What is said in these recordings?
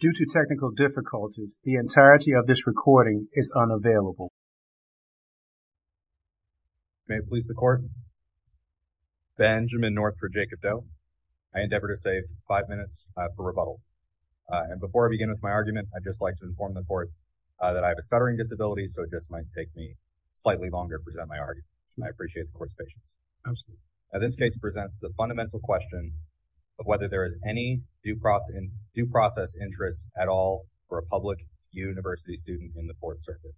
Due to technical difficulties, the entirety of this recording is unavailable. May it please the court. Benjamin North for Jacob Doe. I endeavor to save five minutes for rebuttal. And before I begin with my argument, I'd just like to inform the court that I have a stuttering disability, so it just might take me slightly longer to present my argument. I appreciate the court's patience. Absolutely. This case presents the fundamental question of whether there is any due process interest at all for a public university student in the fourth circuit.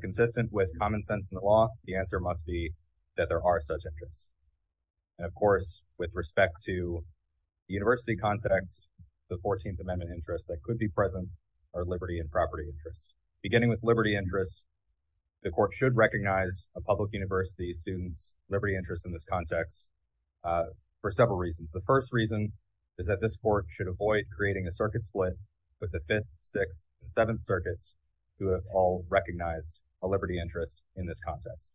Consistent with common sense in the law, the answer must be that there are such interests. And of course, with respect to the university context, the 14th Amendment interest that could be present are liberty and property interest. Beginning with liberty interest, the court should recognize a public university student's liberty interest in this context for several reasons. The first reason is that this court should avoid creating a circuit split with the fifth, sixth, and seventh circuits who have all recognized a liberty interest in this context.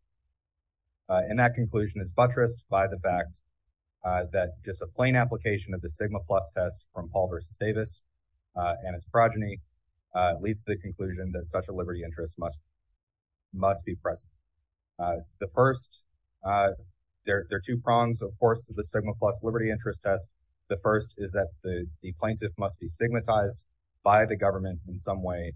And that conclusion is buttressed by the fact that just a plain application of the stigma plus test from Paul versus Davis and its progeny leads to the conclusion that such a liberty interest must be present. There are two prongs, of course, to the stigma plus liberty interest test. The first is that the plaintiff must be stigmatized by the government in some way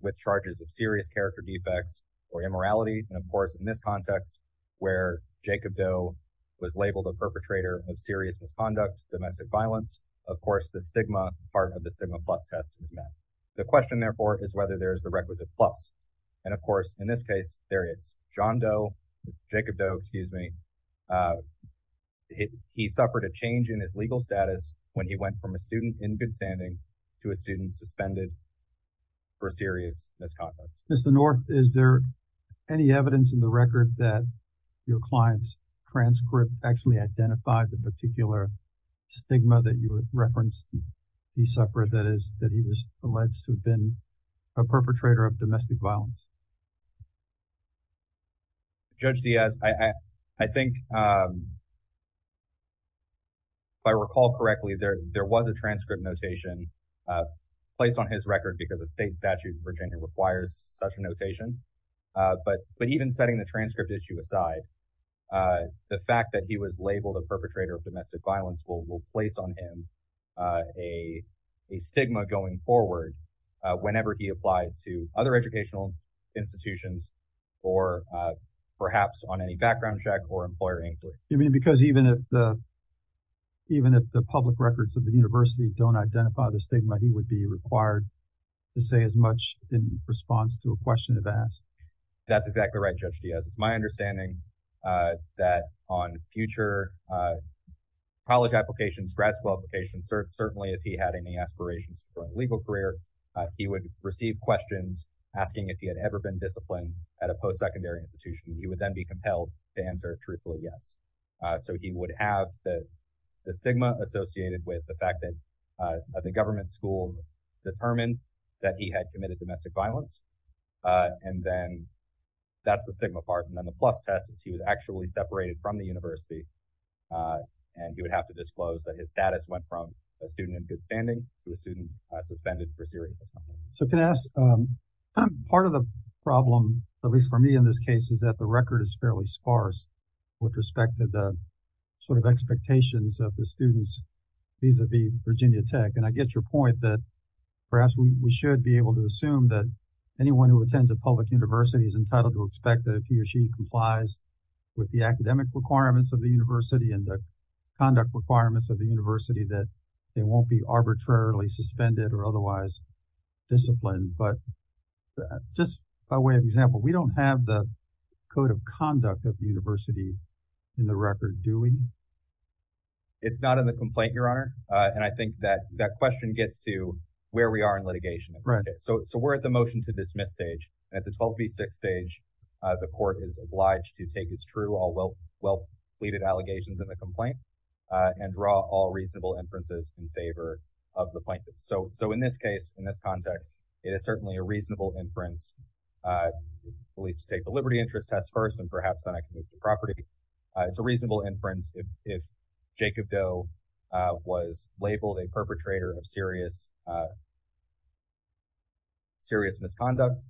with charges of serious character defects or immorality. And of course, in this context, where Jacob Doe was labeled a perpetrator of serious misconduct, domestic violence, of course, the stigma part of the stigma plus test is met. The question, therefore, is whether there is the requisite plus. And of course, in this case, there is. John Doe, Jacob Doe, excuse me, he suffered a change in his legal status when he went from a student in good standing to a student suspended for serious misconduct. Mr. North, is there any evidence in the record that your client's transcript actually identified the particular stigma that you referenced? He suffered that is that he was alleged to have been a perpetrator of domestic violence. Judge Diaz, I think. If I recall correctly, there was a transcript notation placed on his record because the state statute in Virginia requires such a notation. But even will will place on him a a stigma going forward whenever he applies to other educational institutions or perhaps on any background check or employer inquiry. I mean, because even if the even if the public records of the university don't identify the stigma, he would be required to say as much in response to a question of that. That's exactly right, Judge Diaz. It's my understanding that on future college applications, grad school applications, certainly if he had any aspirations for a legal career, he would receive questions asking if he had ever been disciplined at a post-secondary institution. He would then be compelled to answer truthfully, yes. So he would have the stigma associated with the fact that the government school determined that he had committed domestic violence. And then that's the stigma part. And then the plus test is he was actually separated from the university and he would have to disclose that his status went from a student in good standing to a student suspended for serious. So can I ask part of the problem, at least for me in this case, is that the record is fairly sparse with respect to the sort of expectations of the students vis-a-vis Virginia Tech. And I get your point that perhaps we should be able to assume that anyone who attends a public university is entitled to expect that if he or she complies with the academic requirements of the university and the conduct requirements of the university, that they won't be arbitrarily suspended or otherwise disciplined. But just by way of example, we don't have the code of conduct of the university in the record, do we? It's not in the complaint, Your Honor. And I think that that question gets to where we are in litigation. So we're at the motion to dismiss stage. At the 12 v. 6 stage, the court is obliged to take its true, all well pleaded allegations in the complaint and draw all reasonable inferences in favor of the plaintiff. So in this case, in this context, it is certainly a reasonable inference, at least to take the liberty interest test first and perhaps then I can move to property. It's a reasonable inference if Jacob Doe was labeled a perpetrator of serious misconduct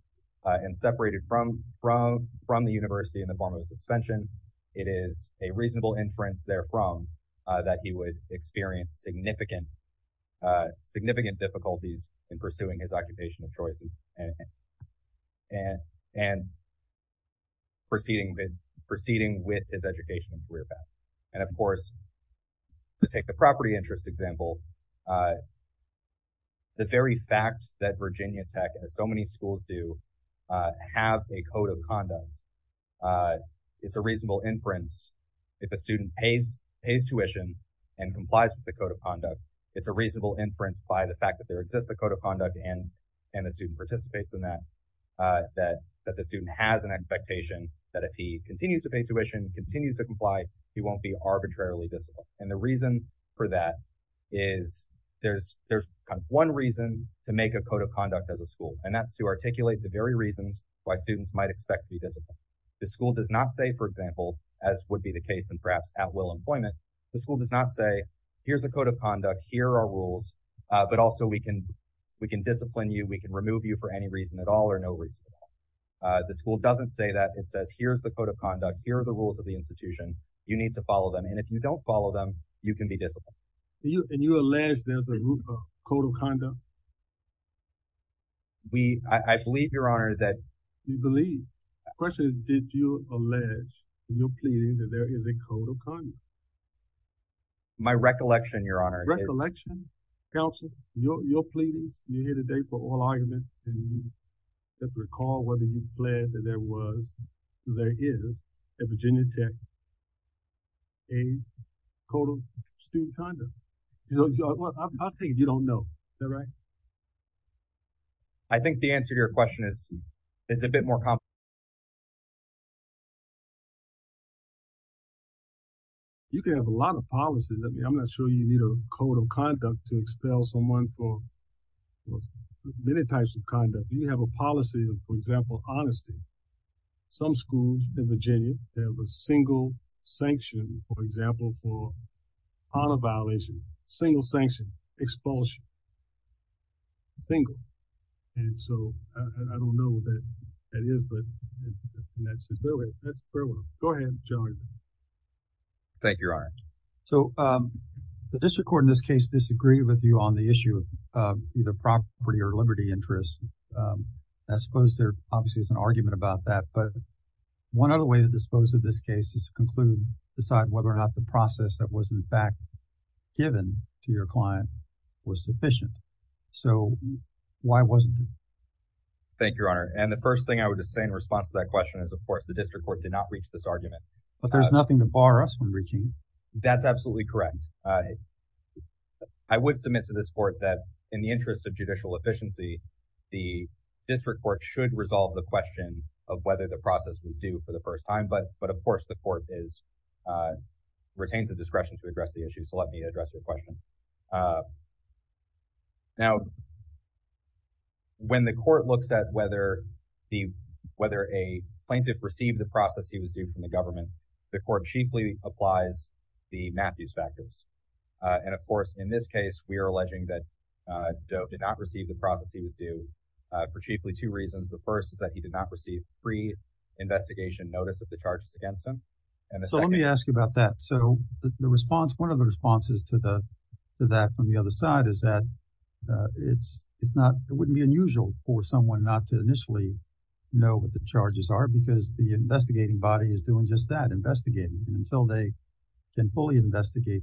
and separated from the university in the form of suspension. It is a reasonable inference therefrom that he would experience significant difficulties in pursuing his occupation of choice and proceeding with his education and career path. And of course, to take the property interest example, the very fact that Virginia Tech, as so many schools do, have a code of conduct, it's a reasonable inference. If a student pays tuition and complies with the code of conduct, it's a reasonable inference by the fact that there exists the code of conduct and the student participates in that, that the student has an expectation that if he continues to pay tuition, he won't be arbitrarily disciplined. And the reason for that is there's one reason to make a code of conduct as a school, and that's to articulate the very reasons why students might expect to be disciplined. The school does not say, for example, as would be the case and perhaps at Will Employment, the school does not say, here's a code of conduct, here are rules, but also we can discipline you, we can remove you for any reason at all or no reason at all. The school doesn't say that. It says, here's the code of conduct, here are the rules of the institution, you need to follow them, and if you don't follow them, you can be disciplined. And you allege there's a code of conduct? We, I believe, Your Honor, that... You believe? The question is, did you allege in your pleading that there is a code of conduct? My recollection, Your Honor... Recollection? Counsel, your pleadings, you're here today for oral argument, and you recall whether you plead that there was, there is, at Virginia Tech, a code of student conduct. I'll take it you don't know. Is that right? I think the answer to your question is a bit more complicated. You can have a lot of policies. I'm not sure you need a code of conduct to expel someone for many types of conduct. You have a policy of, for example, honesty. Some schools in Virginia, they have a single sanction, for example, for honor violation, single sanction, expulsion, single. And so, I don't know what that is, but that's a fair one. Go ahead, Your Honor. Thank you, Your Honor. So, the district court in this case disagreed with you on the issue of either property or liberty interests. I suppose there obviously is an argument about that, but one other way to dispose of this case is to conclude, decide whether or not the process that was, in fact, given to your client was sufficient. So, why wasn't it? Thank you, Your Honor. And the first thing I would just say in response to that question is, of course, the district court should resolve the question of whether the process was due for the first time, but of course, the court retains the discretion to address the issue. So, let me address your question. Now, when the court looks at whether a plaintiff received the process he was due from the government, the court chiefly applies the Matthews factors. And of course, in this case, we are alleging that Dove did not receive the process he was due for chiefly two reasons. The first is that he did not receive free investigation notice of the charges against him. So, let me ask about that. So, the response, one of the responses to that from the other side is that it's not, it wouldn't be unusual for someone not to initially know what the charges are because the investigating body is doing just that, investigating. And until they can fully investigate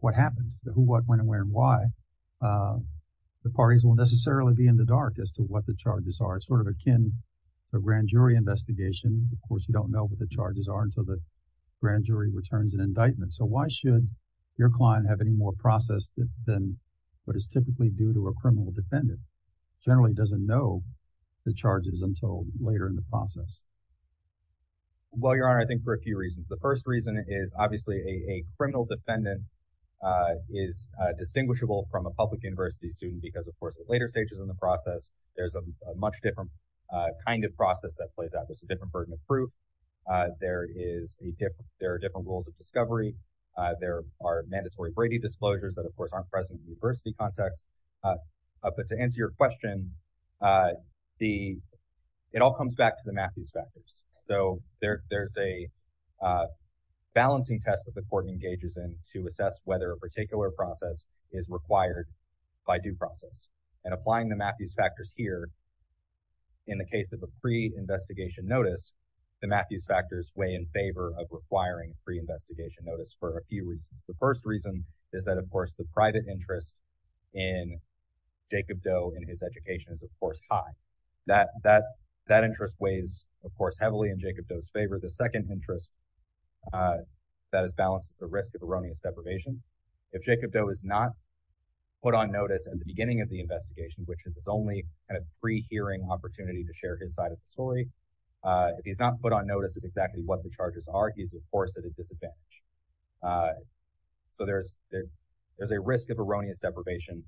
what happened, the who, what, when, and where, and why, the parties will necessarily be in the dark as to what the charges are. It's sort of akin to a grand jury investigation. Of course, you don't know what the charges are until the grand jury returns an indictment. So, why should your client have any more process than what is typically due to a criminal defendant? Generally doesn't know the charges until later in the process. Well, your honor, I think for a few reasons. The first reason is obviously a criminal defendant is distinguishable from a public university student because of course, at later stages in the process, there's a much different kind of process that plays out. There's a different burden of proof. There is a different, there are different rules of discovery. There are mandatory disclosures that of course, aren't present in the university context. But to answer your question, it all comes back to the Matthews factors. So, there's a balancing test that the court engages in to assess whether a particular process is required by due process. And applying the Matthews factors here, in the case of a pre-investigation notice, the Matthews factors weigh in favor of is that of course, the private interest in Jacob Doe and his education is of course, high. That interest weighs of course, heavily in Jacob Doe's favor. The second interest that is balanced is the risk of erroneous deprivation. If Jacob Doe is not put on notice at the beginning of the investigation, which is his only kind of pre-hearing opportunity to share his side of the story. If he's not put on notice is exactly what the charges are, he's of course, at a disadvantage. So, there's a risk of erroneous deprivation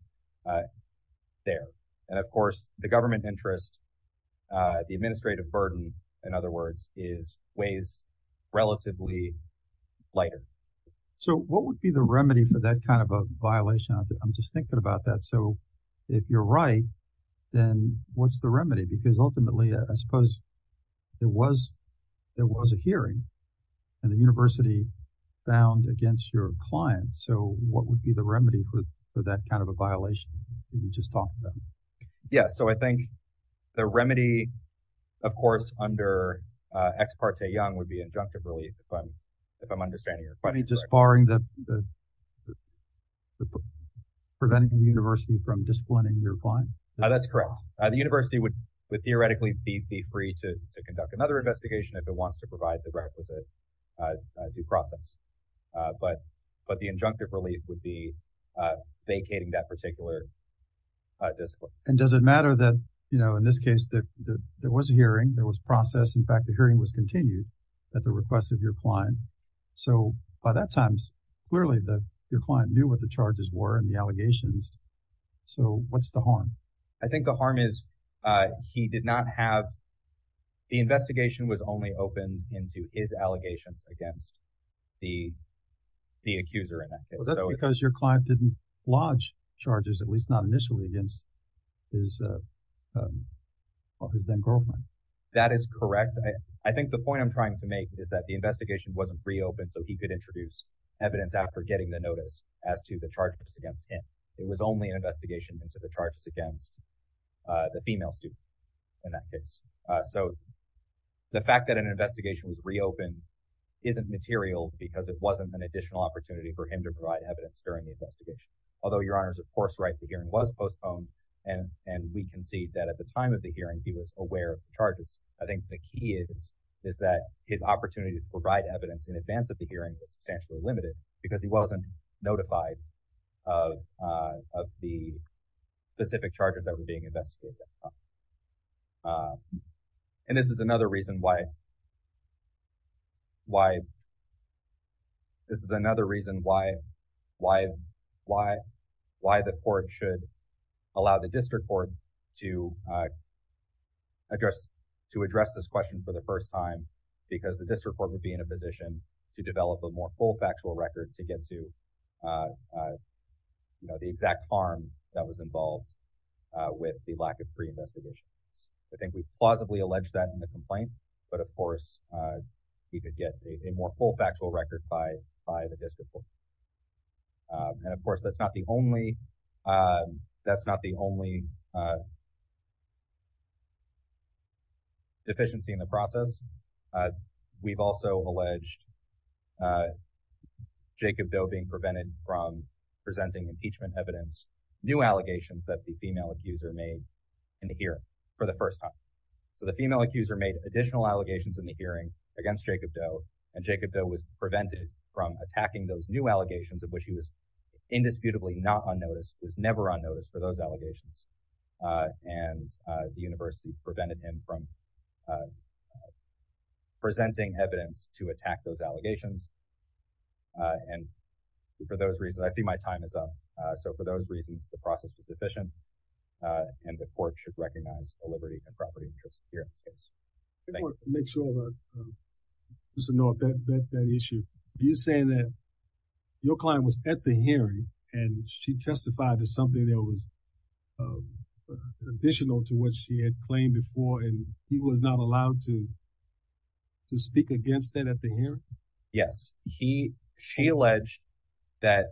there. And of course, the government interest, the administrative burden, in other words, weighs relatively lighter. So, what would be the remedy for that kind of a violation? I'm just thinking about that. So, if you're right, then what's the remedy? Because ultimately, I suppose, there was a hearing and the university found against your client. So, what would be the remedy for that kind of a violation that you just talked about? Yeah. So, I think the remedy, of course, under Ex parte Young would be an injunctive relief, if I'm understanding it. Just barring the, preventing the university from disciplining your client? That's correct. The university would theoretically be free to conduct another investigation if it wants to provide the requisite due process. But the injunctive relief would be vacating that particular discipline. And does it matter that, in this case, there was a hearing, there was process, in fact, the hearing was continued at the request of your client. So, by that time, clearly, your client knew what the charges were and the I think the harm is he did not have, the investigation was only open into his allegations against the accuser in that case. Well, that's because your client didn't lodge charges, at least not initially, against his then girlfriend. That is correct. I think the point I'm trying to make is that the investigation wasn't reopened so he could introduce evidence after getting the notice as to the charges against him. It was only an investigation into the charges against the female student in that case. So, the fact that an investigation was reopened isn't material because it wasn't an additional opportunity for him to provide evidence during the investigation. Although your Honor is, of course, right, the hearing was postponed and we can see that at the time of the hearing, he was aware of the charges. I think the key is that his opportunity to provide evidence in advance of the hearing was substantially limited because he wasn't notified of the specific charges that were being investigated at that time. And this is another reason why the court should allow the district court to address this question for the first time because the district court would be in a position to develop a more full factual record to get to, you know, the exact harm that was involved with the lack of pre-investigations. I think we plausibly allege that in the complaint, but, of course, he could get a more full factual record by the district court. And, of course, that's not the only deficiency in the process. We've also alleged Jacob Doe being prevented from presenting impeachment evidence, new allegations that the female accuser made in the hearing for the first time. So the female accuser made additional allegations in the hearing against Jacob Doe and Jacob Doe was prevented from attacking those new allegations of which he was indisputably not on notice, was never on notice for those allegations. And the university prevented him from presenting evidence to attack those allegations. And for those reasons, I see my time is up. So for those reasons, the process is sufficient and the court should recognize the liberty and property interest here in this case. I want to make sure about that issue. You're saying that your client was at the hearing and she testified to something that was additional to what she had claimed before and he was not allowed to speak against that at the hearing? Yes, she alleged that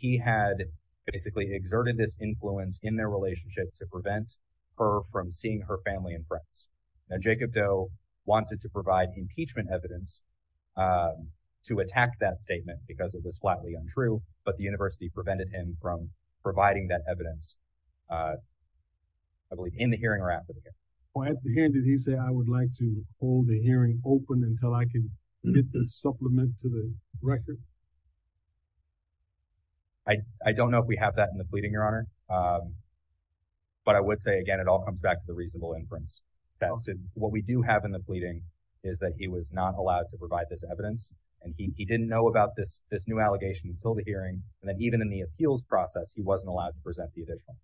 he had basically exerted this influence in their relationship to prevent her from seeing her family and friends. Now, Jacob Doe wanted to provide impeachment evidence to attack that was flatly untrue, but the university prevented him from providing that evidence. I believe in the hearing or after the hearing, he said, I would like to hold the hearing open until I can get the supplement to the record. I don't know if we have that in the pleading, Your Honor, but I would say, again, it all comes back to the reasonable inference. What we do have in the pleading is that he was not allowed to provide this evidence and he didn't know about this allegation until the hearing and even in the appeals process, he wasn't allowed to present the evidence.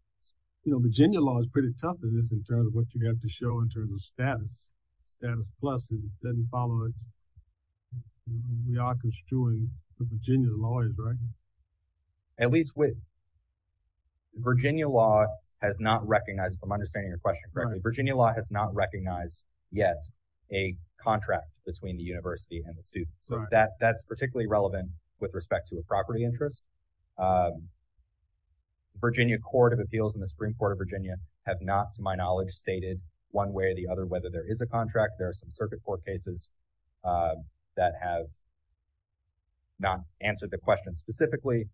Virginia law is pretty tough in this in terms of what you have to show in terms of status. Status plus doesn't follow it. We are construing the Virginia lawyers, right? At least, Virginia law has not recognized, if I'm understanding your question correctly, Virginia law has not recognized yet a contract between the university and the students. That's particularly relevant with respect to a property interest. The Virginia Court of Appeals and the Supreme Court of Virginia have not, to my knowledge, stated one way or the other whether there is a contract. There are some circuit court cases that have not answered the question specifically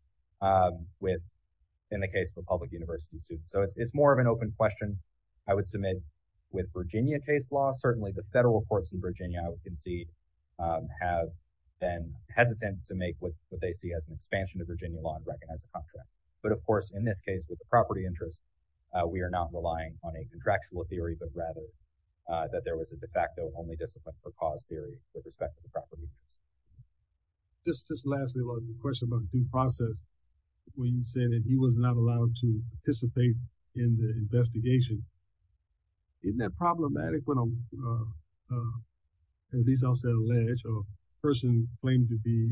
in the case of a public university student. It's more of an open question I would submit with Virginia case law. Certainly, the federal courts in Virginia, I would concede, have been hesitant to make what they see as an expansion of Virginia law and recognize the contract. But of course, in this case, with the property interest, we are not relying on a contractual theory but rather that there was a de facto only discipline for cause theory with respect to the property interest. Just lastly, the question about due process, when you said that he was not allowed to participate in the investigation, isn't that problematic? At least, a person claimed to be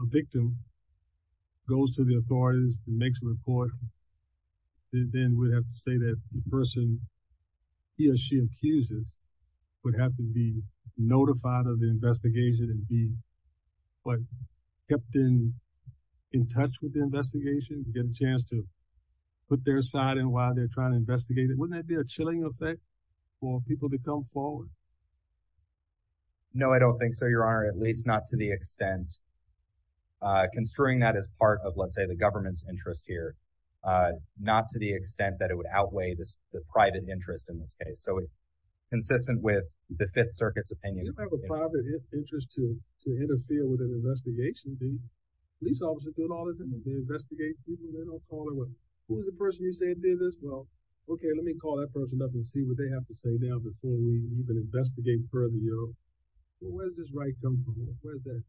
a victim goes to the authorities and makes a report, then we'd have to say that the person he or she accuses would have to be notified of the investigation and be kept in touch with the investigation to get a chance to put their side in while they're trying to investigate it. Wouldn't that be a chilling effect for people to come forward? No, I don't think so, Your Honor, at least not to the extent, construing that as part of, let's say, the government's interest here, not to the extent that it would outweigh the private interest in this case. So, consistent with the Fifth Circuit's opinion. You don't have a private interest to interfere with an investigation. The police officers do all the time. They investigate people. They don't call them. Who was the person you said did this? Well, okay, let me call that person. You know, where does this right come from? Where does that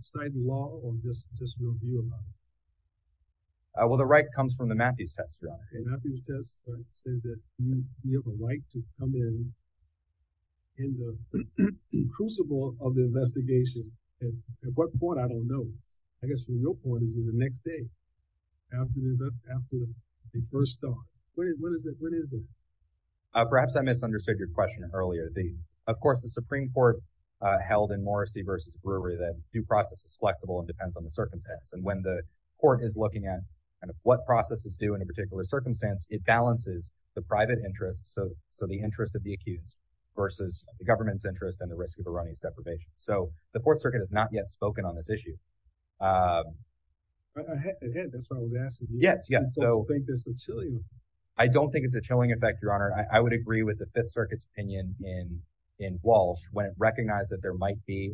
decide the law or just your view about it? Well, the right comes from the Matthews test. The Matthews test says that you have a right to come in, in the crucible of the investigation. At what point? I don't know. I guess the real point is in the next day after the first start. When is it? Perhaps I misunderstood your question earlier. Of course, the Supreme Court held in Morrissey versus Brewery that due process is flexible and depends on the circumstance. And when the court is looking at kind of what processes do in a particular circumstance, it balances the private interest. So the interest of the accused versus the government's interest and the risk of a running deprivation. So the court circuit has not yet spoken on this issue. That's what I was asking. Yes. Yes. So I don't think it's a chilling effect, Your Honor. I would agree with the Fifth Circuit's opinion in Walsh when it recognized that there might be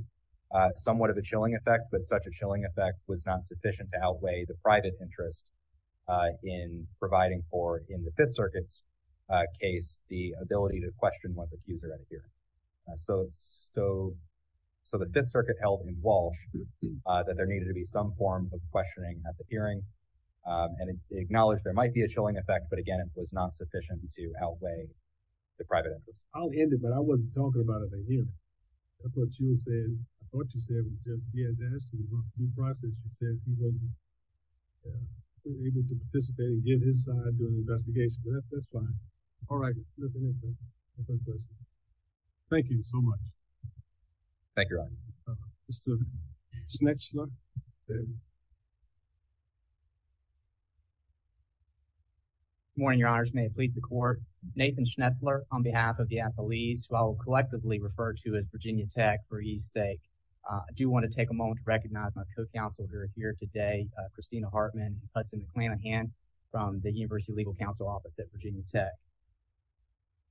somewhat of a chilling effect, but such a chilling effect was not sufficient to outweigh the private interest in providing for, in the Fifth Circuit's case, the ability to question one's accuser at a hearing. So the Fifth Circuit held in Walsh that there needed to be some form of questioning at the hearing and acknowledged there might be a sufficient to outweigh the private interest. I'll end it, but I wasn't talking about a hearing. That's what you were saying. I thought you said he has asked you about due process. You said he wasn't able to participate and give his side during the investigation, but that's fine. All right. Thank you so much. Thank you, Your Honor. Mr. Schnitzler. Good morning, Your Honors. May it please the Court. Nathan Schnitzler on behalf of the athletes who I will collectively refer to as Virginia Tech for ease's sake. I do want to take a moment to recognize my co-counselor here today, Christina Hartman, Hudson McClanahan from the University Legal Counsel Office at Virginia Tech.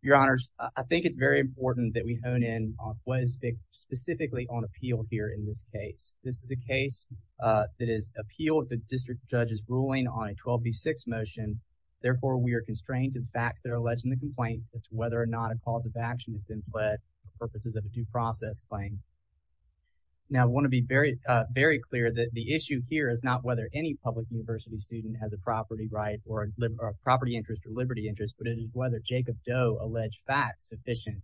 Your Honors, I think it's very important that we hone in on what is specifically on appeal here in this case. This is a case that is appeal the district judge's ruling on a 12B6 motion. Therefore, we are constrained to the facts that are alleged in the complaint as to whether or not a cause of action has been pled for purposes of a due process claim. Now, I want to be very clear that the issue here is not whether any public university student has a property right or a property interest or liberty interest, but it is whether Jacob Doe alleged facts sufficient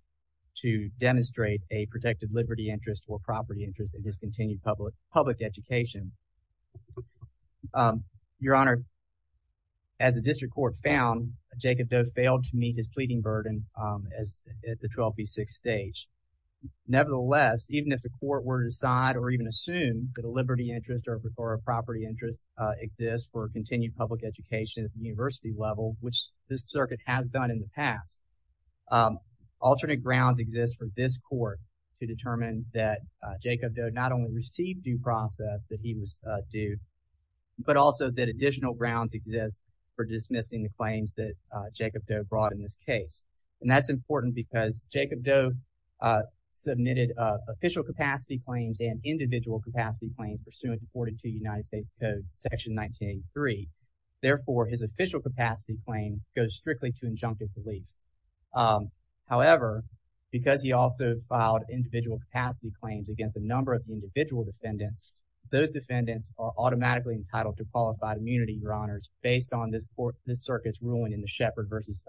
to demonstrate a protected liberty interest or property interest in his continued public education. Your Honor, as the district court found, Jacob Doe failed to meet his pleading burden at the 12B6 stage. Nevertheless, even if the court were to decide or even assume that a liberty interest or a property interest exists for continued public education at the university level, which this circuit has done in the past, alternate grounds exist for this court to determine that Jacob Doe not only received due process that he was due, but also that additional grounds exist for dismissing the claims that Jacob Doe brought in this case. And that's important because Jacob Doe submitted official capacity claims and Therefore, his official capacity claim goes strictly to injunctive delete. However, because he also filed individual capacity claims against a number of the individual defendants, those defendants are automatically entitled to qualified immunity, Your Honors, based on this circuit's ruling in the Shepard versus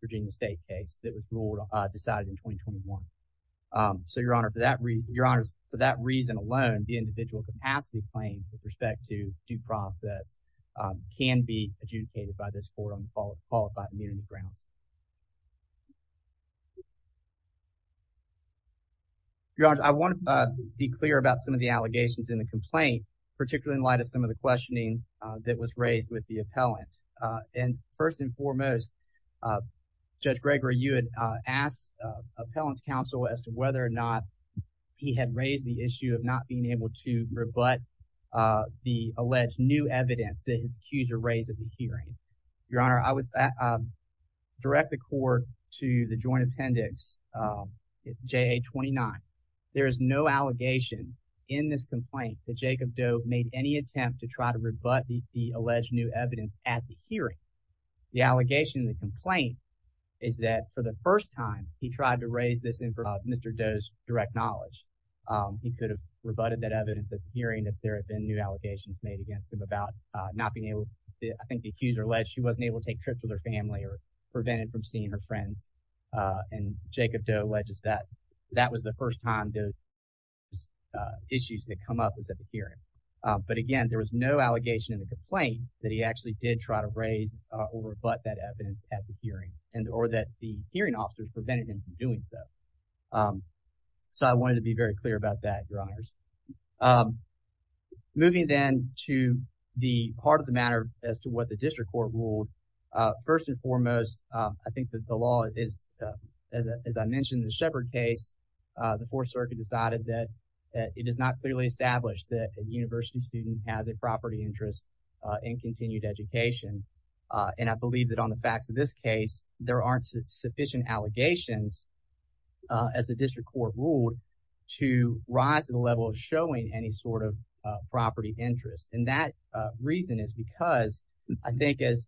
Virginia State case that was ruled, decided in 2021. So, Your Honor, for that reason, Your Honors, for that reason alone, the individual capacity claim with respect to due process can be adjudicated by this court on the qualified immunity grounds. Your Honors, I want to be clear about some of the allegations in the complaint, particularly in light of some of the questioning that was raised with the appellant. And first and foremost, Judge Gregory, you had asked appellant's counsel as to whether or not he had raised the issue of not being able to rebut the alleged new evidence that is accused to raise at the hearing. Your Honor, I would direct the court to the Joint Appendix JA-29. There is no allegation in this complaint that Jacob Doe made any attempt to try to rebut the alleged new evidence at the hearing. The allegation in the complaint is that for the direct knowledge, he could have rebutted that evidence at the hearing, that there had been new allegations made against him about not being able to, I think the accuser alleged she wasn't able to take trips with her family or prevented from seeing her friends. And Jacob Doe alleges that that was the first time those issues that come up is at the hearing. But again, there was no allegation in the complaint that he actually did try to raise or rebut that evidence at the hearing. So I wanted to be very clear about that, Your Honors. Moving then to the part of the matter as to what the district court ruled. First and foremost, I think that the law is, as I mentioned in the Shepard case, the Fourth Circuit decided that it is not clearly established that a university student has a property interest in continued education. And I believe that on the facts of this case, there aren't sufficient allegations as the district court ruled to rise to the level of showing any sort of property interest. And that reason is because I think as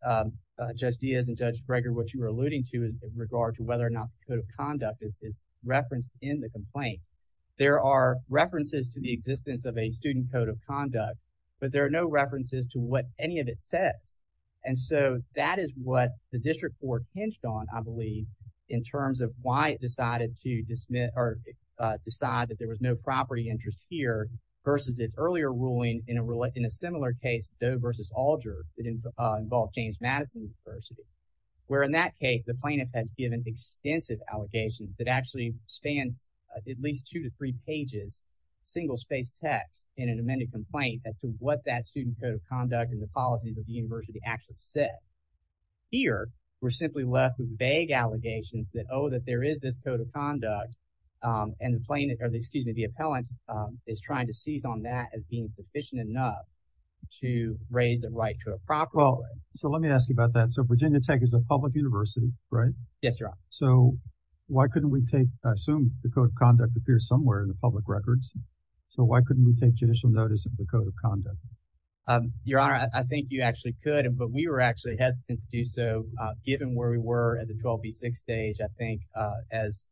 Judge Diaz and Judge Breger, what you were alluding to in regard to whether or not the code of conduct is referenced in the complaint, there are references to the existence of a student code of conduct, but there are no references to what any of it says. And so that is what the district court hinged on, I believe, in terms of why it decided to dismiss or decide that there was no property interest here versus its earlier ruling in a similar case, Doe versus Alger, that involved James Madison University. Where in that case, the plaintiff had given extensive allegations that actually spans at least two to three pages, single-spaced text in an amended complaint as to what that student code of conduct and the policies of the university actually said. Here, we're simply left with vague allegations that, oh, that there is this code of conduct and the plaintiff, or excuse me, the appellant is trying to seize on that as being sufficient enough to raise a right to a property. Well, so let me ask you about that. So Virginia Tech is a public university, right? Yes, Your Honor. So why couldn't we take, I assume the code of conduct appears somewhere in the public records. So why couldn't we take judicial notice of the code of conduct? Your Honor, I think you actually could, but we were actually hesitant to do so given where we were at the 12B6 stage. I think as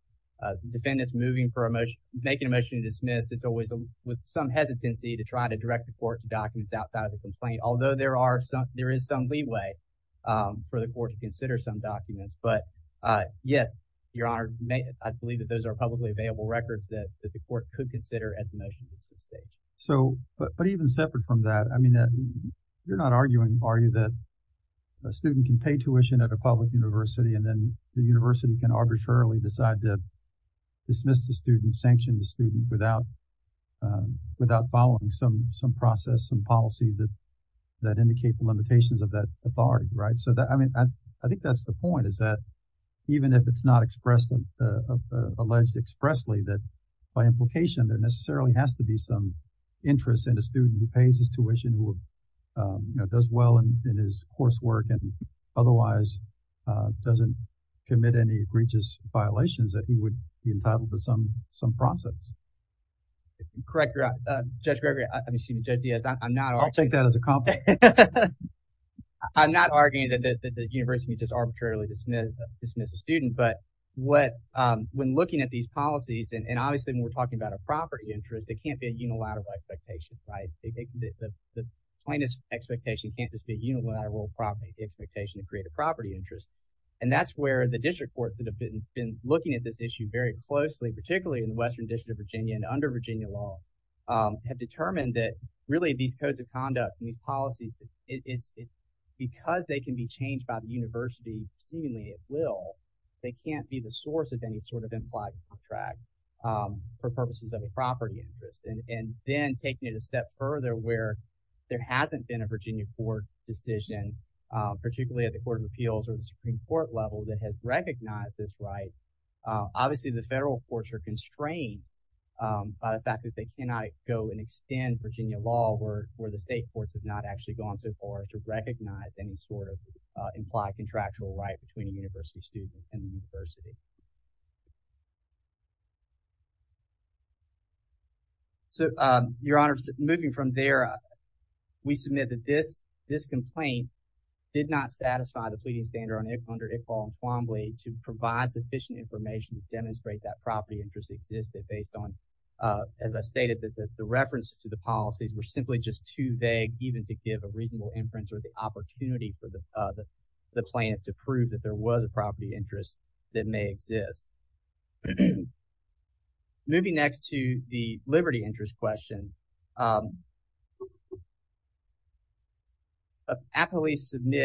defendants moving for a motion, making a motion to dismiss, it's always with some hesitancy to try to direct the court to documents outside of the complaint. Although there is some leeway for the court to consider some documents, but yes, Your Honor, I believe that those are publicly available records that the court could consider at the motion-based stage. So, but even separate from that, I mean, you're not arguing, are you, that a student can pay tuition at a public university and then the university can arbitrarily decide to dismiss the student, sanction the student without following some process, some policies that indicate the limitations of that authority, right? So that, I mean, I think that's the point is that even if it's not expressed, alleged expressly, that by implication, there necessarily has to be some interest in a student who pays his tuition, who, you know, does well in his coursework and otherwise doesn't commit any egregious violations that he would be entitled to some process. Correct, Your Honor. Judge Gregory, excuse me, Judge Diaz, I'm not arguing. I'll take that as a compliment. I'm not arguing that the university can just arbitrarily dismiss a student, but what, when looking at these policies, and obviously when we're talking about a property interest, there can't be a unilateral expectation, right? The plainest expectation can't just be unilateral property, the expectation to create a property interest. And that's where the district courts that have been looking at this issue very closely, particularly in the Western District of Virginia, have been looking at these policies. And it's because they can be changed by the university, seemingly at will, they can't be the source of any sort of implied contract for purposes of a property interest. And then taking it a step further where there hasn't been a Virginia court decision, particularly at the Court of Appeals or the Supreme Court level that has recognized this right, obviously the federal courts are constrained by the fact that they cannot go and extend Virginia law where the state courts have not actually gone so far to recognize any sort of implied contractual right between a university student and the university. So, Your Honor, moving from there, we submit that this complaint did not satisfy the pleading standard under Iqbal and Quambly to provide sufficient information to demonstrate that the references to the policies were simply just too vague even to give a reasonable inference or the opportunity for the plaintiff to prove that there was a property interest that may exist. Moving next to the liberty interest question,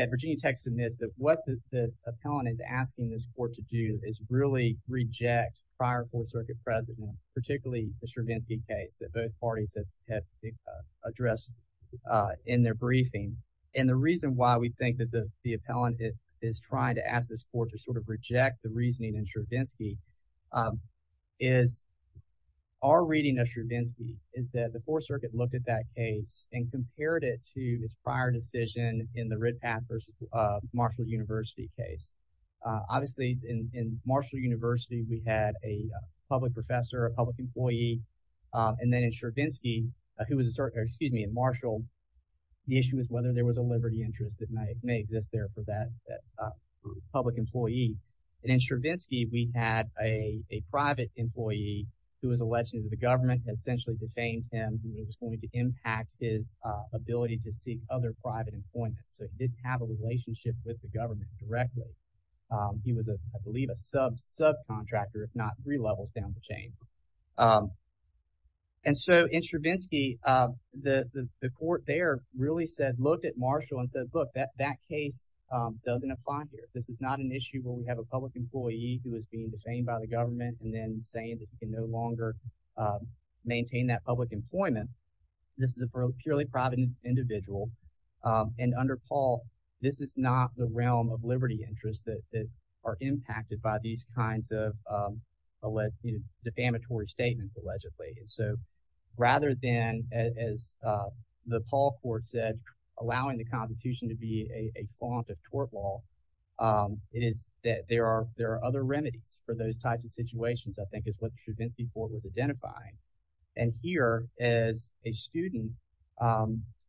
Virginia Tech submits that what the appellant is asking this court to do is really reject prior Fourth Circuit precedent, particularly the Stravinsky case that both parties have addressed in their briefing. And the reason why we think that the appellant is trying to ask this court to sort of reject the reasoning in Stravinsky is our reading of Stravinsky is that the Fourth Circuit looked at that case and compared it to its prior decision in the public professor or public employee. And then in Stravinsky, who was a certain excuse me, in Marshall, the issue is whether there was a liberty interest that may exist there for that public employee. And in Stravinsky, we had a private employee who was elected to the government essentially defamed him. He was going to impact his ability to seek other private employment. So it didn't have a relationship with the government directly. He was, I believe, a sub subcontractor, not three levels down the chain. And so in Stravinsky, the court there really said, look at Marshall and said, look, that that case doesn't apply here. This is not an issue where we have a public employee who is being defamed by the government and then saying that you can no longer maintain that public employment. This is a purely private individual. And under Paul, this is not the realm of liberty interests that are impacted by these kinds of defamatory statements allegedly. And so rather than, as the Paul court said, allowing the Constitution to be a font of tort law, it is that there are there are other remedies for those types of situations, I think, is what the Stravinsky court was identifying. And here, as a student,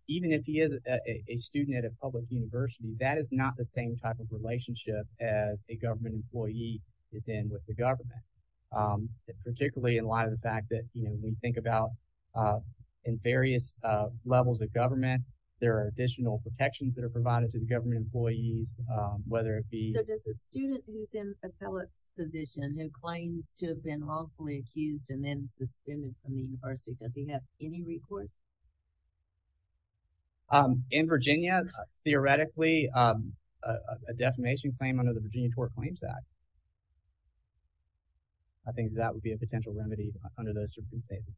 even if he is a student at a public university, that is not the same type of relationship as a government employee is in with the government, particularly in light of the fact that, you know, we think about in various levels of government, there are additional protections that are provided to the government employees, whether it be a student who's in the university. Does he have any recourse? In Virginia, theoretically, a defamation claim under the Virginia Tort Claims Act. I think that would be a potential remedy under those circumstances,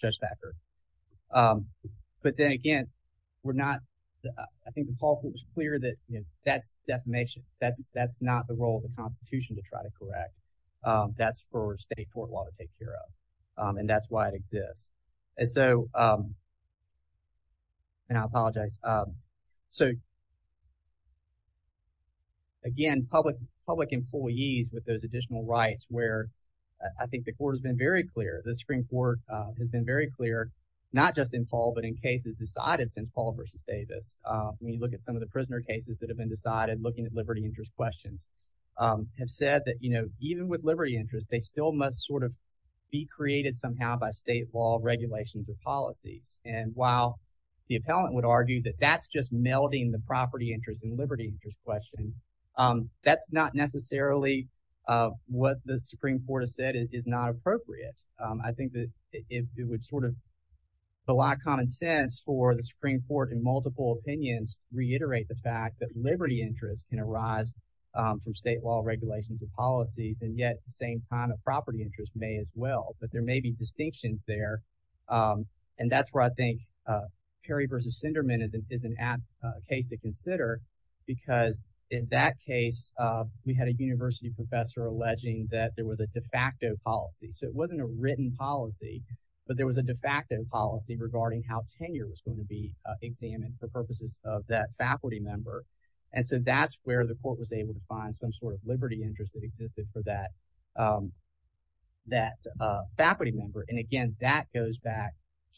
Judge Thacker. But then again, we're not, I think the Paul court was clear that, you know, that's defamation. That's that's not the role of the Constitution to try to correct. That's for state tort law to care of. And that's why it exists. So. And I apologize. So. Again, public public employees with those additional rights, where I think the court has been very clear, the Supreme Court has been very clear, not just in Paul, but in cases decided since Paul versus Davis. We look at some of the prisoner cases that have been decided, looking at liberty interest be created somehow by state law regulations or policies. And while the appellant would argue that that's just melding the property interest and liberty interest question, that's not necessarily what the Supreme Court has said is not appropriate. I think that it would sort of a lot of common sense for the Supreme Court in multiple opinions, reiterate the fact that liberty interest can arise from state law regulations and policies. And yet the same kind of property interest may as well. But there may be distinctions there. And that's where I think Perry versus Sinderman is an app case to consider, because in that case, we had a university professor alleging that there was a de facto policy. So it wasn't a written policy, but there was a de facto policy regarding how tenure was going to be examined for purposes of that faculty member. And so that's where the court was able to find some sort of liberty interest that existed for that faculty member. And again, that goes back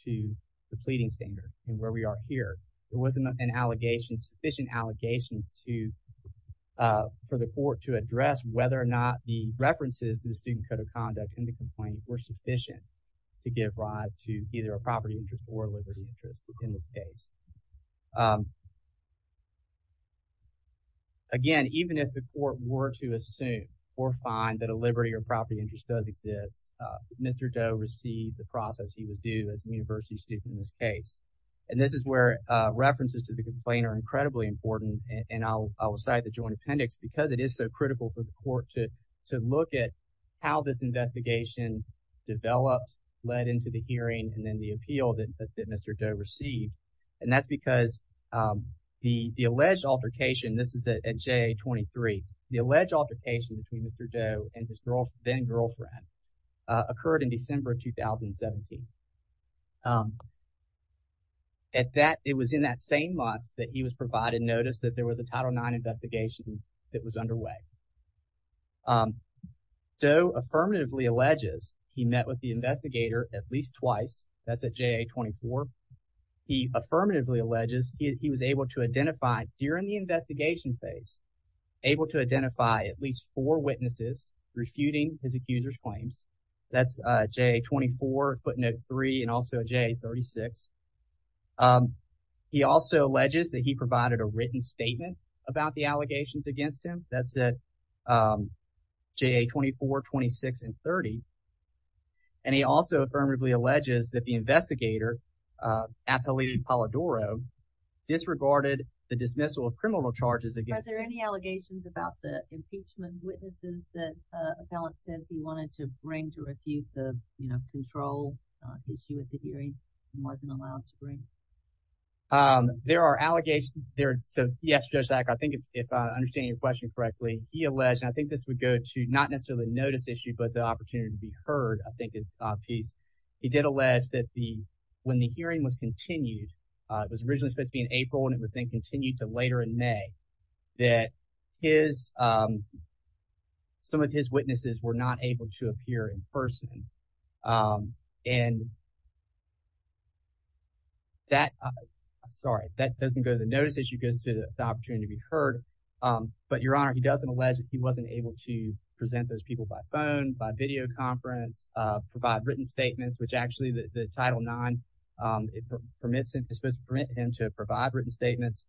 to the pleading standard and where we are here. It wasn't an allegation, sufficient allegations to, for the court to address whether or not the references to the student code of conduct and the complaint were sufficient to give rise to either a property interest or liberty interest in this case. Again, even if the court were to assume or find that a liberty or property interest does exist, Mr. Doe received the process he was due as a university student in this case. And this is where references to the complaint are incredibly important. And I will cite the joint appendix because it is so critical for the court to look at how this investigation developed, led into the hearing, and then the appeal that Mr. Doe received. And that's because the alleged altercation, this is at JA-23, the alleged altercation between Mr. Doe and his then-girlfriend occurred in December 2017. It was in that same month that he was provided notice that there was a Title IX investigation that was underway. Doe affirmatively alleges he met with the investigator at least twice. That's at JA-24. He affirmatively alleges he was able to identify during the investigation phase, able to identify at least four witnesses refuting his accuser's claims. That's JA-24, footnote three, and also JA-36. He also alleges that he provided a written statement about the allegations against him. That's at JA-24, 26, and 30. And he also affirmatively alleges that the investigator, Athelide Polidoro, disregarded the dismissal of criminal charges against him. Are there any allegations about the impeachment witnesses that an appellant says he wanted to bring to refute the, you know, control issue he wasn't allowed to bring? There are allegations there. So yes, Judge Sack, I think if I understand your question correctly, he alleged, and I think this would go to not necessarily a notice issue, but the opportunity to be heard, I think is a piece. He did allege that the, when the hearing was continued, it was originally supposed to be in April and it was then continued to later in May, that his, some of his witnesses were not able to appear in person. And that, sorry, that doesn't go to the notice issue, it goes to the opportunity to be heard. But your honor, he doesn't allege that he wasn't able to present those people by phone, by video conference, provide written statements, which actually the Title IX, it permits him, it's supposed to permit him to provide written statements.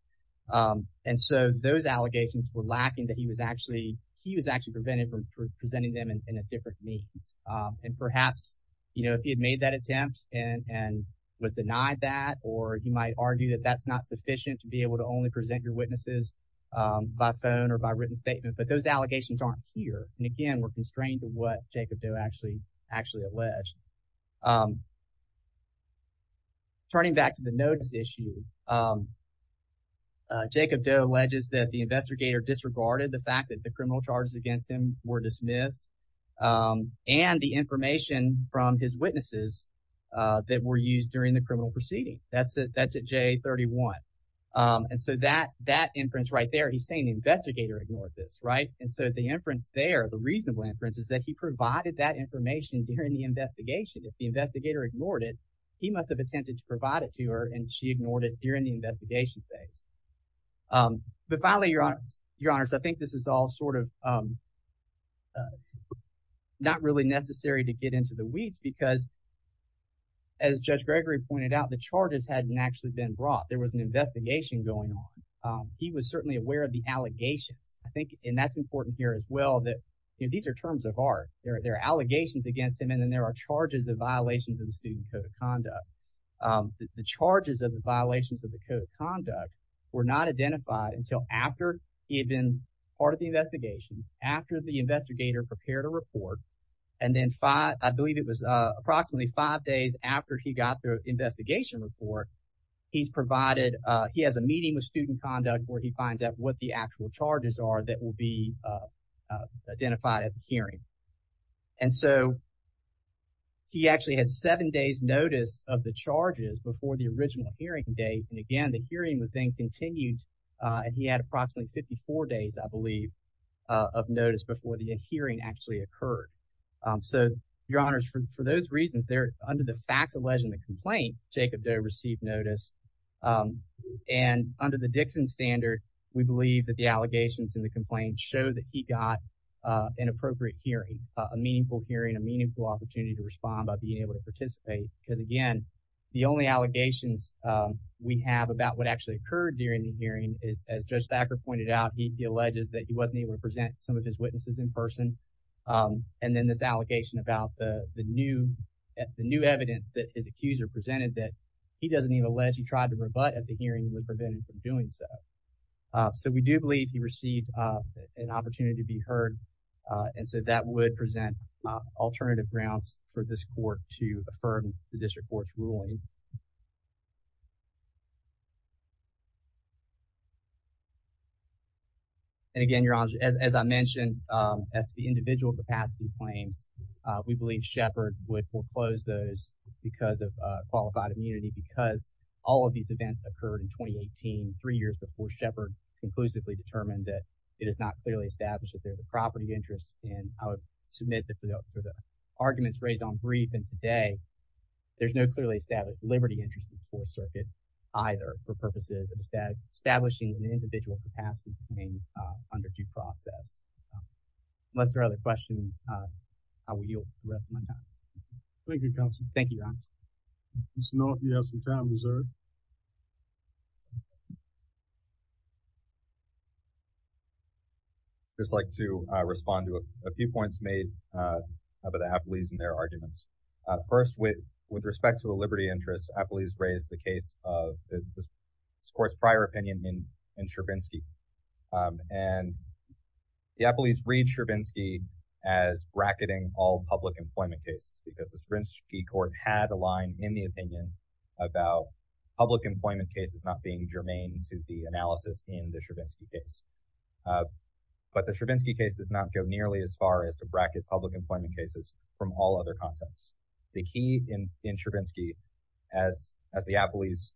And so those allegations were lacking that he was actually, he was actually prevented from presenting them in a different means. And perhaps, you know, if he had made that attempt and was denied that, or he might argue that that's not sufficient to be able to only present your witnesses by phone or by written statement, but those allegations aren't here. And again, we're constrained to what Jacob Doe actually, actually alleged. Turning back to the notice issue, Jacob Doe alleges that the investigator disregarded the fact that the criminal charges against him were dismissed and the information from his witnesses that were used during the criminal proceeding. That's at J31. And so that, that inference right there, he's saying the investigator ignored this, right? And so the inference there, the reasonable inference is that he provided that information during the investigation. If the investigator ignored it, he must have attempted to provide it to her and she ignored it during the investigation phase. But finally, your honors, I think this is all sort of not really necessary to get into the weeds because as Judge Gregory pointed out, the charges hadn't actually been brought. There was an investigation going on. He was certainly aware of the allegations. I think, and that's important here as well, that these are terms of art. There are allegations against him. And then there are charges of violations of the student code of conduct. The charges of the violations of the code of conduct were not identified until after he had been part of the investigation, after the investigator prepared a report. And then five, I believe it was approximately five days after he got the he finds out what the actual charges are that will be identified at the hearing. And so he actually had seven days notice of the charges before the original hearing date. And again, the hearing was then continued and he had approximately 54 days, I believe, of notice before the hearing actually occurred. So your honors, for those reasons, under the facts in the complaint, Jacob Doe received notice. And under the Dixon standard, we believe that the allegations in the complaint show that he got an appropriate hearing, a meaningful hearing, a meaningful opportunity to respond by being able to participate. Because again, the only allegations we have about what actually occurred during the hearing is, as Judge Thacker pointed out, he alleges that he wasn't able to present some of his witnesses in person. And then this accuser presented that he doesn't even allege he tried to rebut at the hearing and would prevent him from doing so. So we do believe he received an opportunity to be heard. And so that would present alternative grounds for this court to affirm the district court's ruling. And again, your honors, as I mentioned, as the individual capacity claims, we believe Shepard would foreclose those because of qualified immunity, because all of these events occurred in 2018, three years before Shepard conclusively determined that it is not clearly established that there's a property interest. And I would submit that for the arguments raised on brief and today, there's no clearly established liberty interest in the Fourth Circuit either for purposes of establishing an individual capacity claim under due process. Unless there are other questions, I will yield the rest of my time. Thank you, counsel. Thank you, your honor. Mr. North, you have some time reserved. I'd just like to respond to a few points made about the Appellees and their arguments. First, with respect to a liberty interest, the Appellees raised the case of this court's prior opinion in the Appellees read Stravinsky as bracketing all public employment cases because the Stravinsky court had a line in the opinion about public employment cases not being germane to the analysis in the Stravinsky case. But the Stravinsky case does not go nearly as far as to bracket public employment cases from all other contexts. The key in Stravinsky, as the Appellees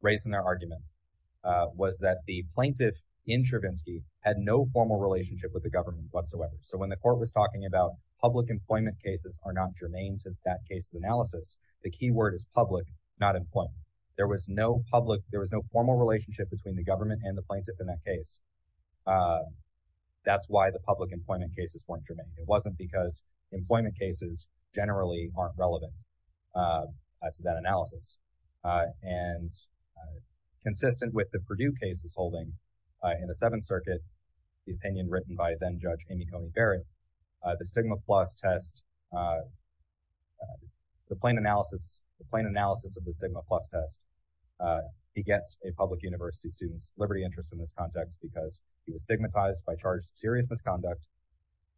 raised in their argument, was that the plaintiff in Stravinsky had no formal relationship with the government whatsoever. So when the court was talking about public employment cases are not germane to that case's analysis, the key word is public, not employment. There was no public, there was no formal relationship between the government and the plaintiff in that case. That's why the public employment cases weren't germane. It wasn't because employment cases generally aren't relevant to that analysis. And consistent with the Purdue cases holding in the Seventh Circuit, the opinion written by then Judge Amy Coney Barrett, the stigma plus test, the plain analysis of the stigma plus test, he gets a public university student's liberty interest in this context because he was stigmatized by charge of serious misconduct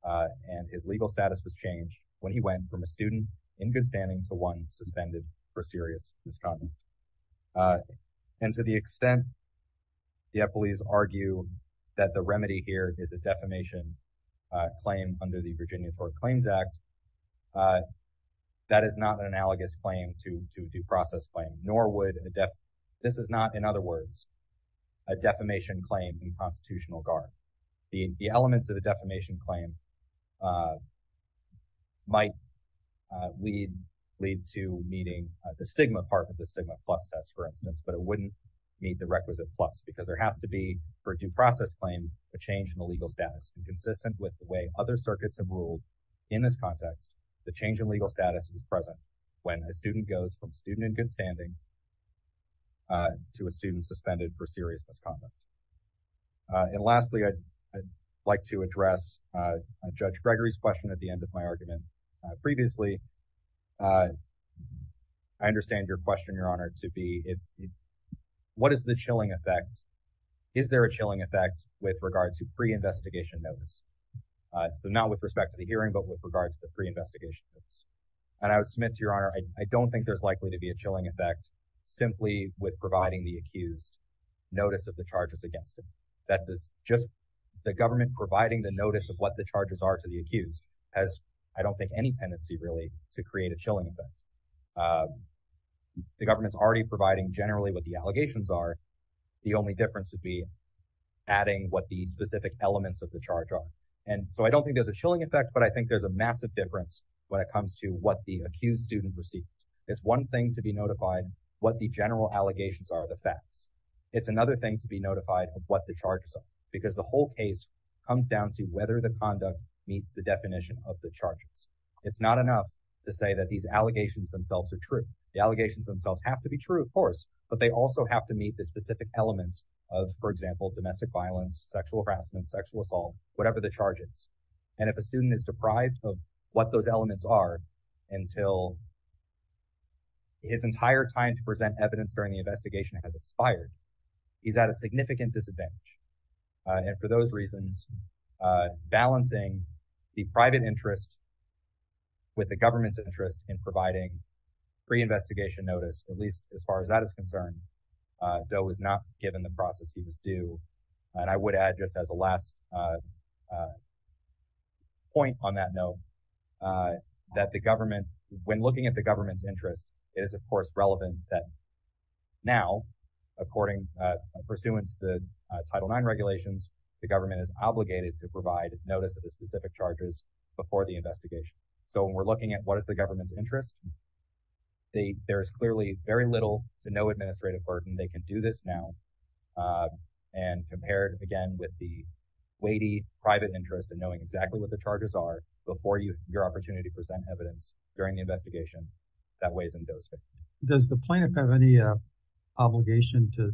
and his legal status was changed when he went from a student in good standing to one suspended for serious misconduct. And to the extent the Appellees argue that the remedy here is a defamation claim under the Virginia Court of Claims Act, that is not an analogous claim to due process claim, nor would a def... This is not, in other words, a defamation claim in a due process claim might lead to meeting the stigma part of the stigma plus test, for instance, but it wouldn't meet the requisite plus because there has to be, for a due process claim, a change in the legal status. And consistent with the way other circuits have ruled in this context, the change in legal status is present when a student goes from student in good standing to a student suspended for serious misconduct. And lastly, I'd like to judge Gregory's question at the end of my argument. Previously, I understand your question, Your Honor, to be, what is the chilling effect? Is there a chilling effect with regard to pre-investigation notice? So not with respect to the hearing, but with regard to the pre-investigation notice. And I would submit to Your Honor, I don't think there's likely to be a chilling effect simply with providing the accused notice of the charges against him. That does just... Providing the notice of what the charges are to the accused has, I don't think, any tendency, really, to create a chilling effect. The government's already providing generally what the allegations are. The only difference would be adding what the specific elements of the charge are. And so I don't think there's a chilling effect, but I think there's a massive difference when it comes to what the accused student received. It's one thing to be notified what the general allegations are, the facts. It's another thing to be notified of what the whether the conduct meets the definition of the charges. It's not enough to say that these allegations themselves are true. The allegations themselves have to be true, of course, but they also have to meet the specific elements of, for example, domestic violence, sexual harassment, sexual assault, whatever the charges. And if a student is deprived of what those elements are until his entire time to present evidence during the investigation has expired, he's at a significant disadvantage. And for those reasons, balancing the private interest with the government's interest in providing pre-investigation notice, at least as far as that is concerned, though is not given the process he was due. And I would add just as a last point on that note, that the government, when looking at the government's interest, it is, of course, relevant that now, according, pursuant to the Title IX regulations, the government is obligated to provide notice of the specific charges before the investigation. So when we're looking at what is the government's interest, there is clearly very little to no administrative burden. They can do this now. And compared, again, with the weighty private interest in knowing exactly what the charges are before your opportunity to present evidence during the investigation, that weighs in those things. Does the plaintiff have any obligation to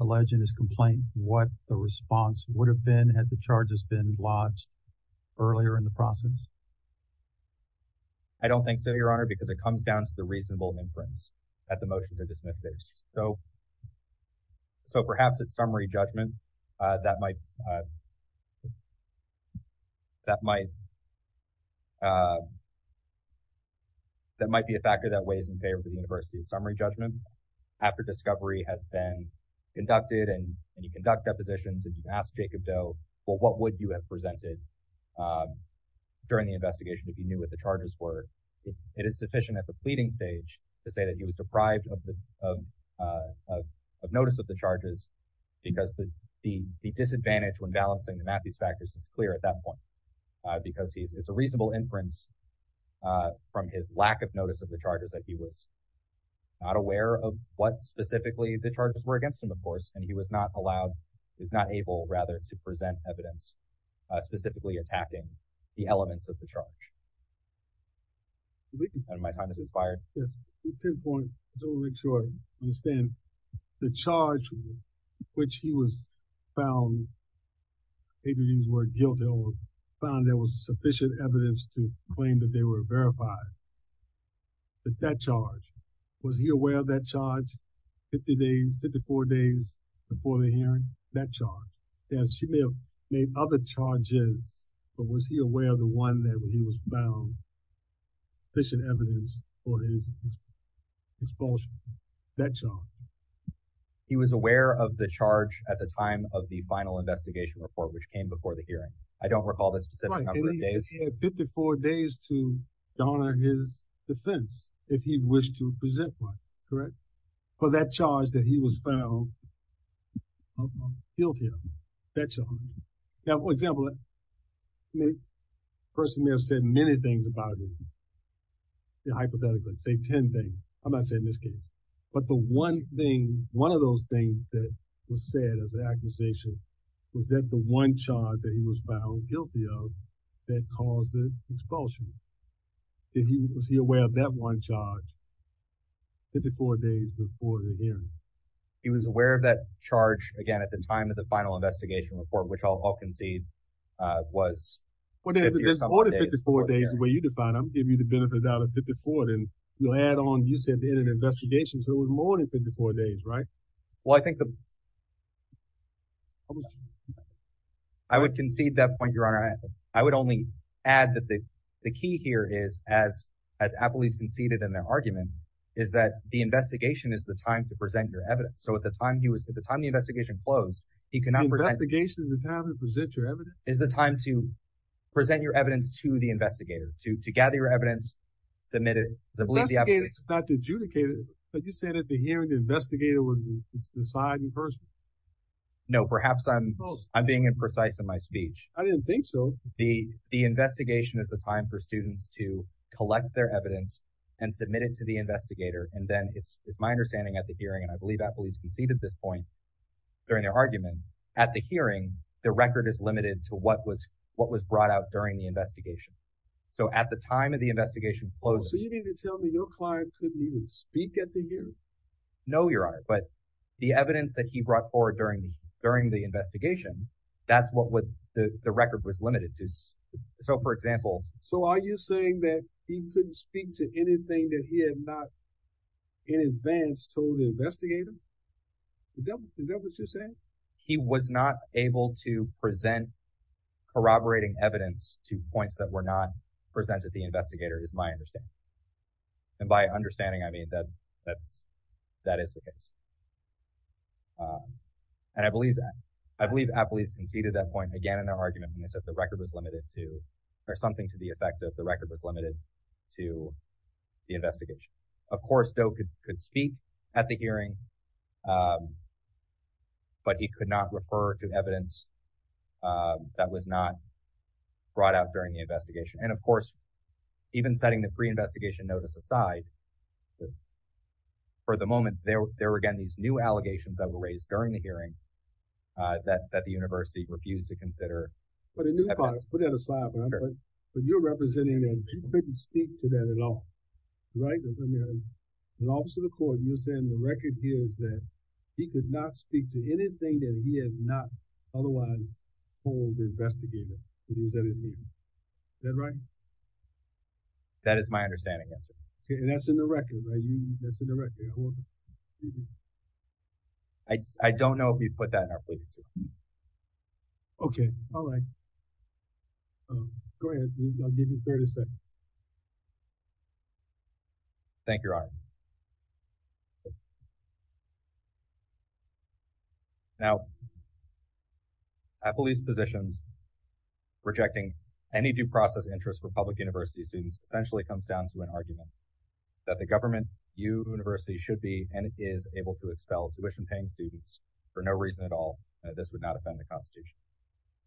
allege in his complaint what the response would have been had the charges been lodged earlier in the process? I don't think so, Your Honor, because it comes down to the reasonable inference at the motion to dismiss this. So perhaps it's summary judgment that might be a factor that weighs in favor of the university's summary judgment. After discovery has been conducted and you conduct depositions and you ask Jacob Doe, well, what would you have presented during the investigation if you knew what the charges were? It is sufficient at the pleading stage to say that he was deprived of notice of the charges because the disadvantage when balancing the Matthews factors is clear at that point, because it's a reasonable inference from his lack of notice of the charges that he was not aware of what specifically the charges were against him, of course, and he was not allowed, he was not able, rather, to present evidence specifically attacking the elements of the charge. And my time has expired. Yes, to pinpoint, to make sure I understand, the charge which he was found, maybe use the word guilty, or found there was sufficient evidence to claim that they were verified, that charge, was he aware of that charge 50 days, 54 days before the hearing, that charge? He may have made other charges, but was he aware of the one that he was found sufficient evidence for his expulsion, that charge? He was aware of the charge at the time of the final investigation report, which came before the hearing. I don't recall the specific number of days. 54 days to honor his defense, if he wished to present one, correct? For that charge that he was found guilty of, that charge. Now, for example, a person may have said many things about him, hypothetically, say 10 things, I'm not saying this case, but the one thing, one of those things that was said as an accusation was that the one charge that he was found guilty of that caused the expulsion, was he aware of that one charge 54 days before the hearing? He was aware of that charge, again, at the time of the final investigation report, which I'll give you the benefit out of 54, and you'll add on, you said in an investigation, so it was more than 54 days, right? Well, I think the, I would concede that point, your honor. I would only add that the key here is, as Appleby's conceded in their argument, is that the investigation is the time to present your evidence. So at the time he was, at the time the investigation closed, he could not- Investigation is the time to present your evidence? Is the time to present your evidence to the investigator, to gather your evidence, submit it, because I believe the Appleby's- Investigators is not to adjudicate it, but you said at the hearing, the investigator would decide in person. No, perhaps I'm being imprecise in my speech. I didn't think so. The investigation is the time for students to collect their evidence and submit it to the investigator, and then it's my understanding at the hearing, and I believe Appleby's conceded this point during their argument, at the hearing, the record is limited to what was brought out during the investigation. So at the time of the investigation closing- So you mean to tell me your client couldn't even speak at the hearing? No, your honor, but the evidence that he brought forward during the investigation, that's what the record was limited to. So for example- So are you saying that he couldn't speak to anything that he had not in advance told the investigator? Is that what you're saying? He was not able to present corroborating evidence to points that were not presented to the investigator, is my understanding. And by understanding, I mean that that is the case. And I believe Appleby's conceded that point again in their argument when they said the record was limited to, or something to the effect that the record was limited to the but he could not refer to evidence that was not brought out during the investigation. And of course, even setting the pre-investigation notice aside, for the moment, there were, again, these new allegations that were raised during the hearing that the university refused to consider. But put that aside, but you're representing that he couldn't speak to that at all, right? An officer of the court, you're saying the record is that he could not speak to anything that he had not otherwise told the investigator that he was at his meeting. Is that right? That is my understanding, yes. Okay, and that's in the record, right? That's in the record. I don't know if you put that in our position. Okay, all right. Go ahead. I'll give you 30 seconds. Thank you, Your Honor. Now, at police positions, rejecting any due process interest for public university students essentially comes down to an argument that the government, you, university, should be, and is able to expel tuition-paying students for no reason at all. This would not offend the Constitution.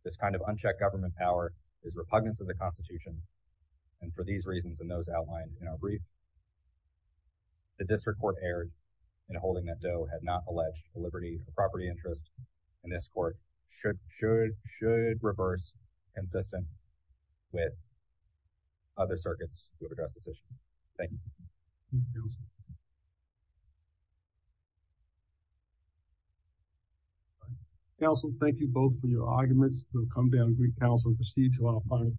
This kind of unchecked government power is repugnant to the Constitution, and for these reasons, and those outlined in our brief, the district court erred in holding that Doe had not alleged the liberty of property interest, and this court should reverse consistent with other circuits who have addressed this issue. Thank you. Counsel, thank you both for your arguments. We'll come down, Greek counsel, to see each other on a final case.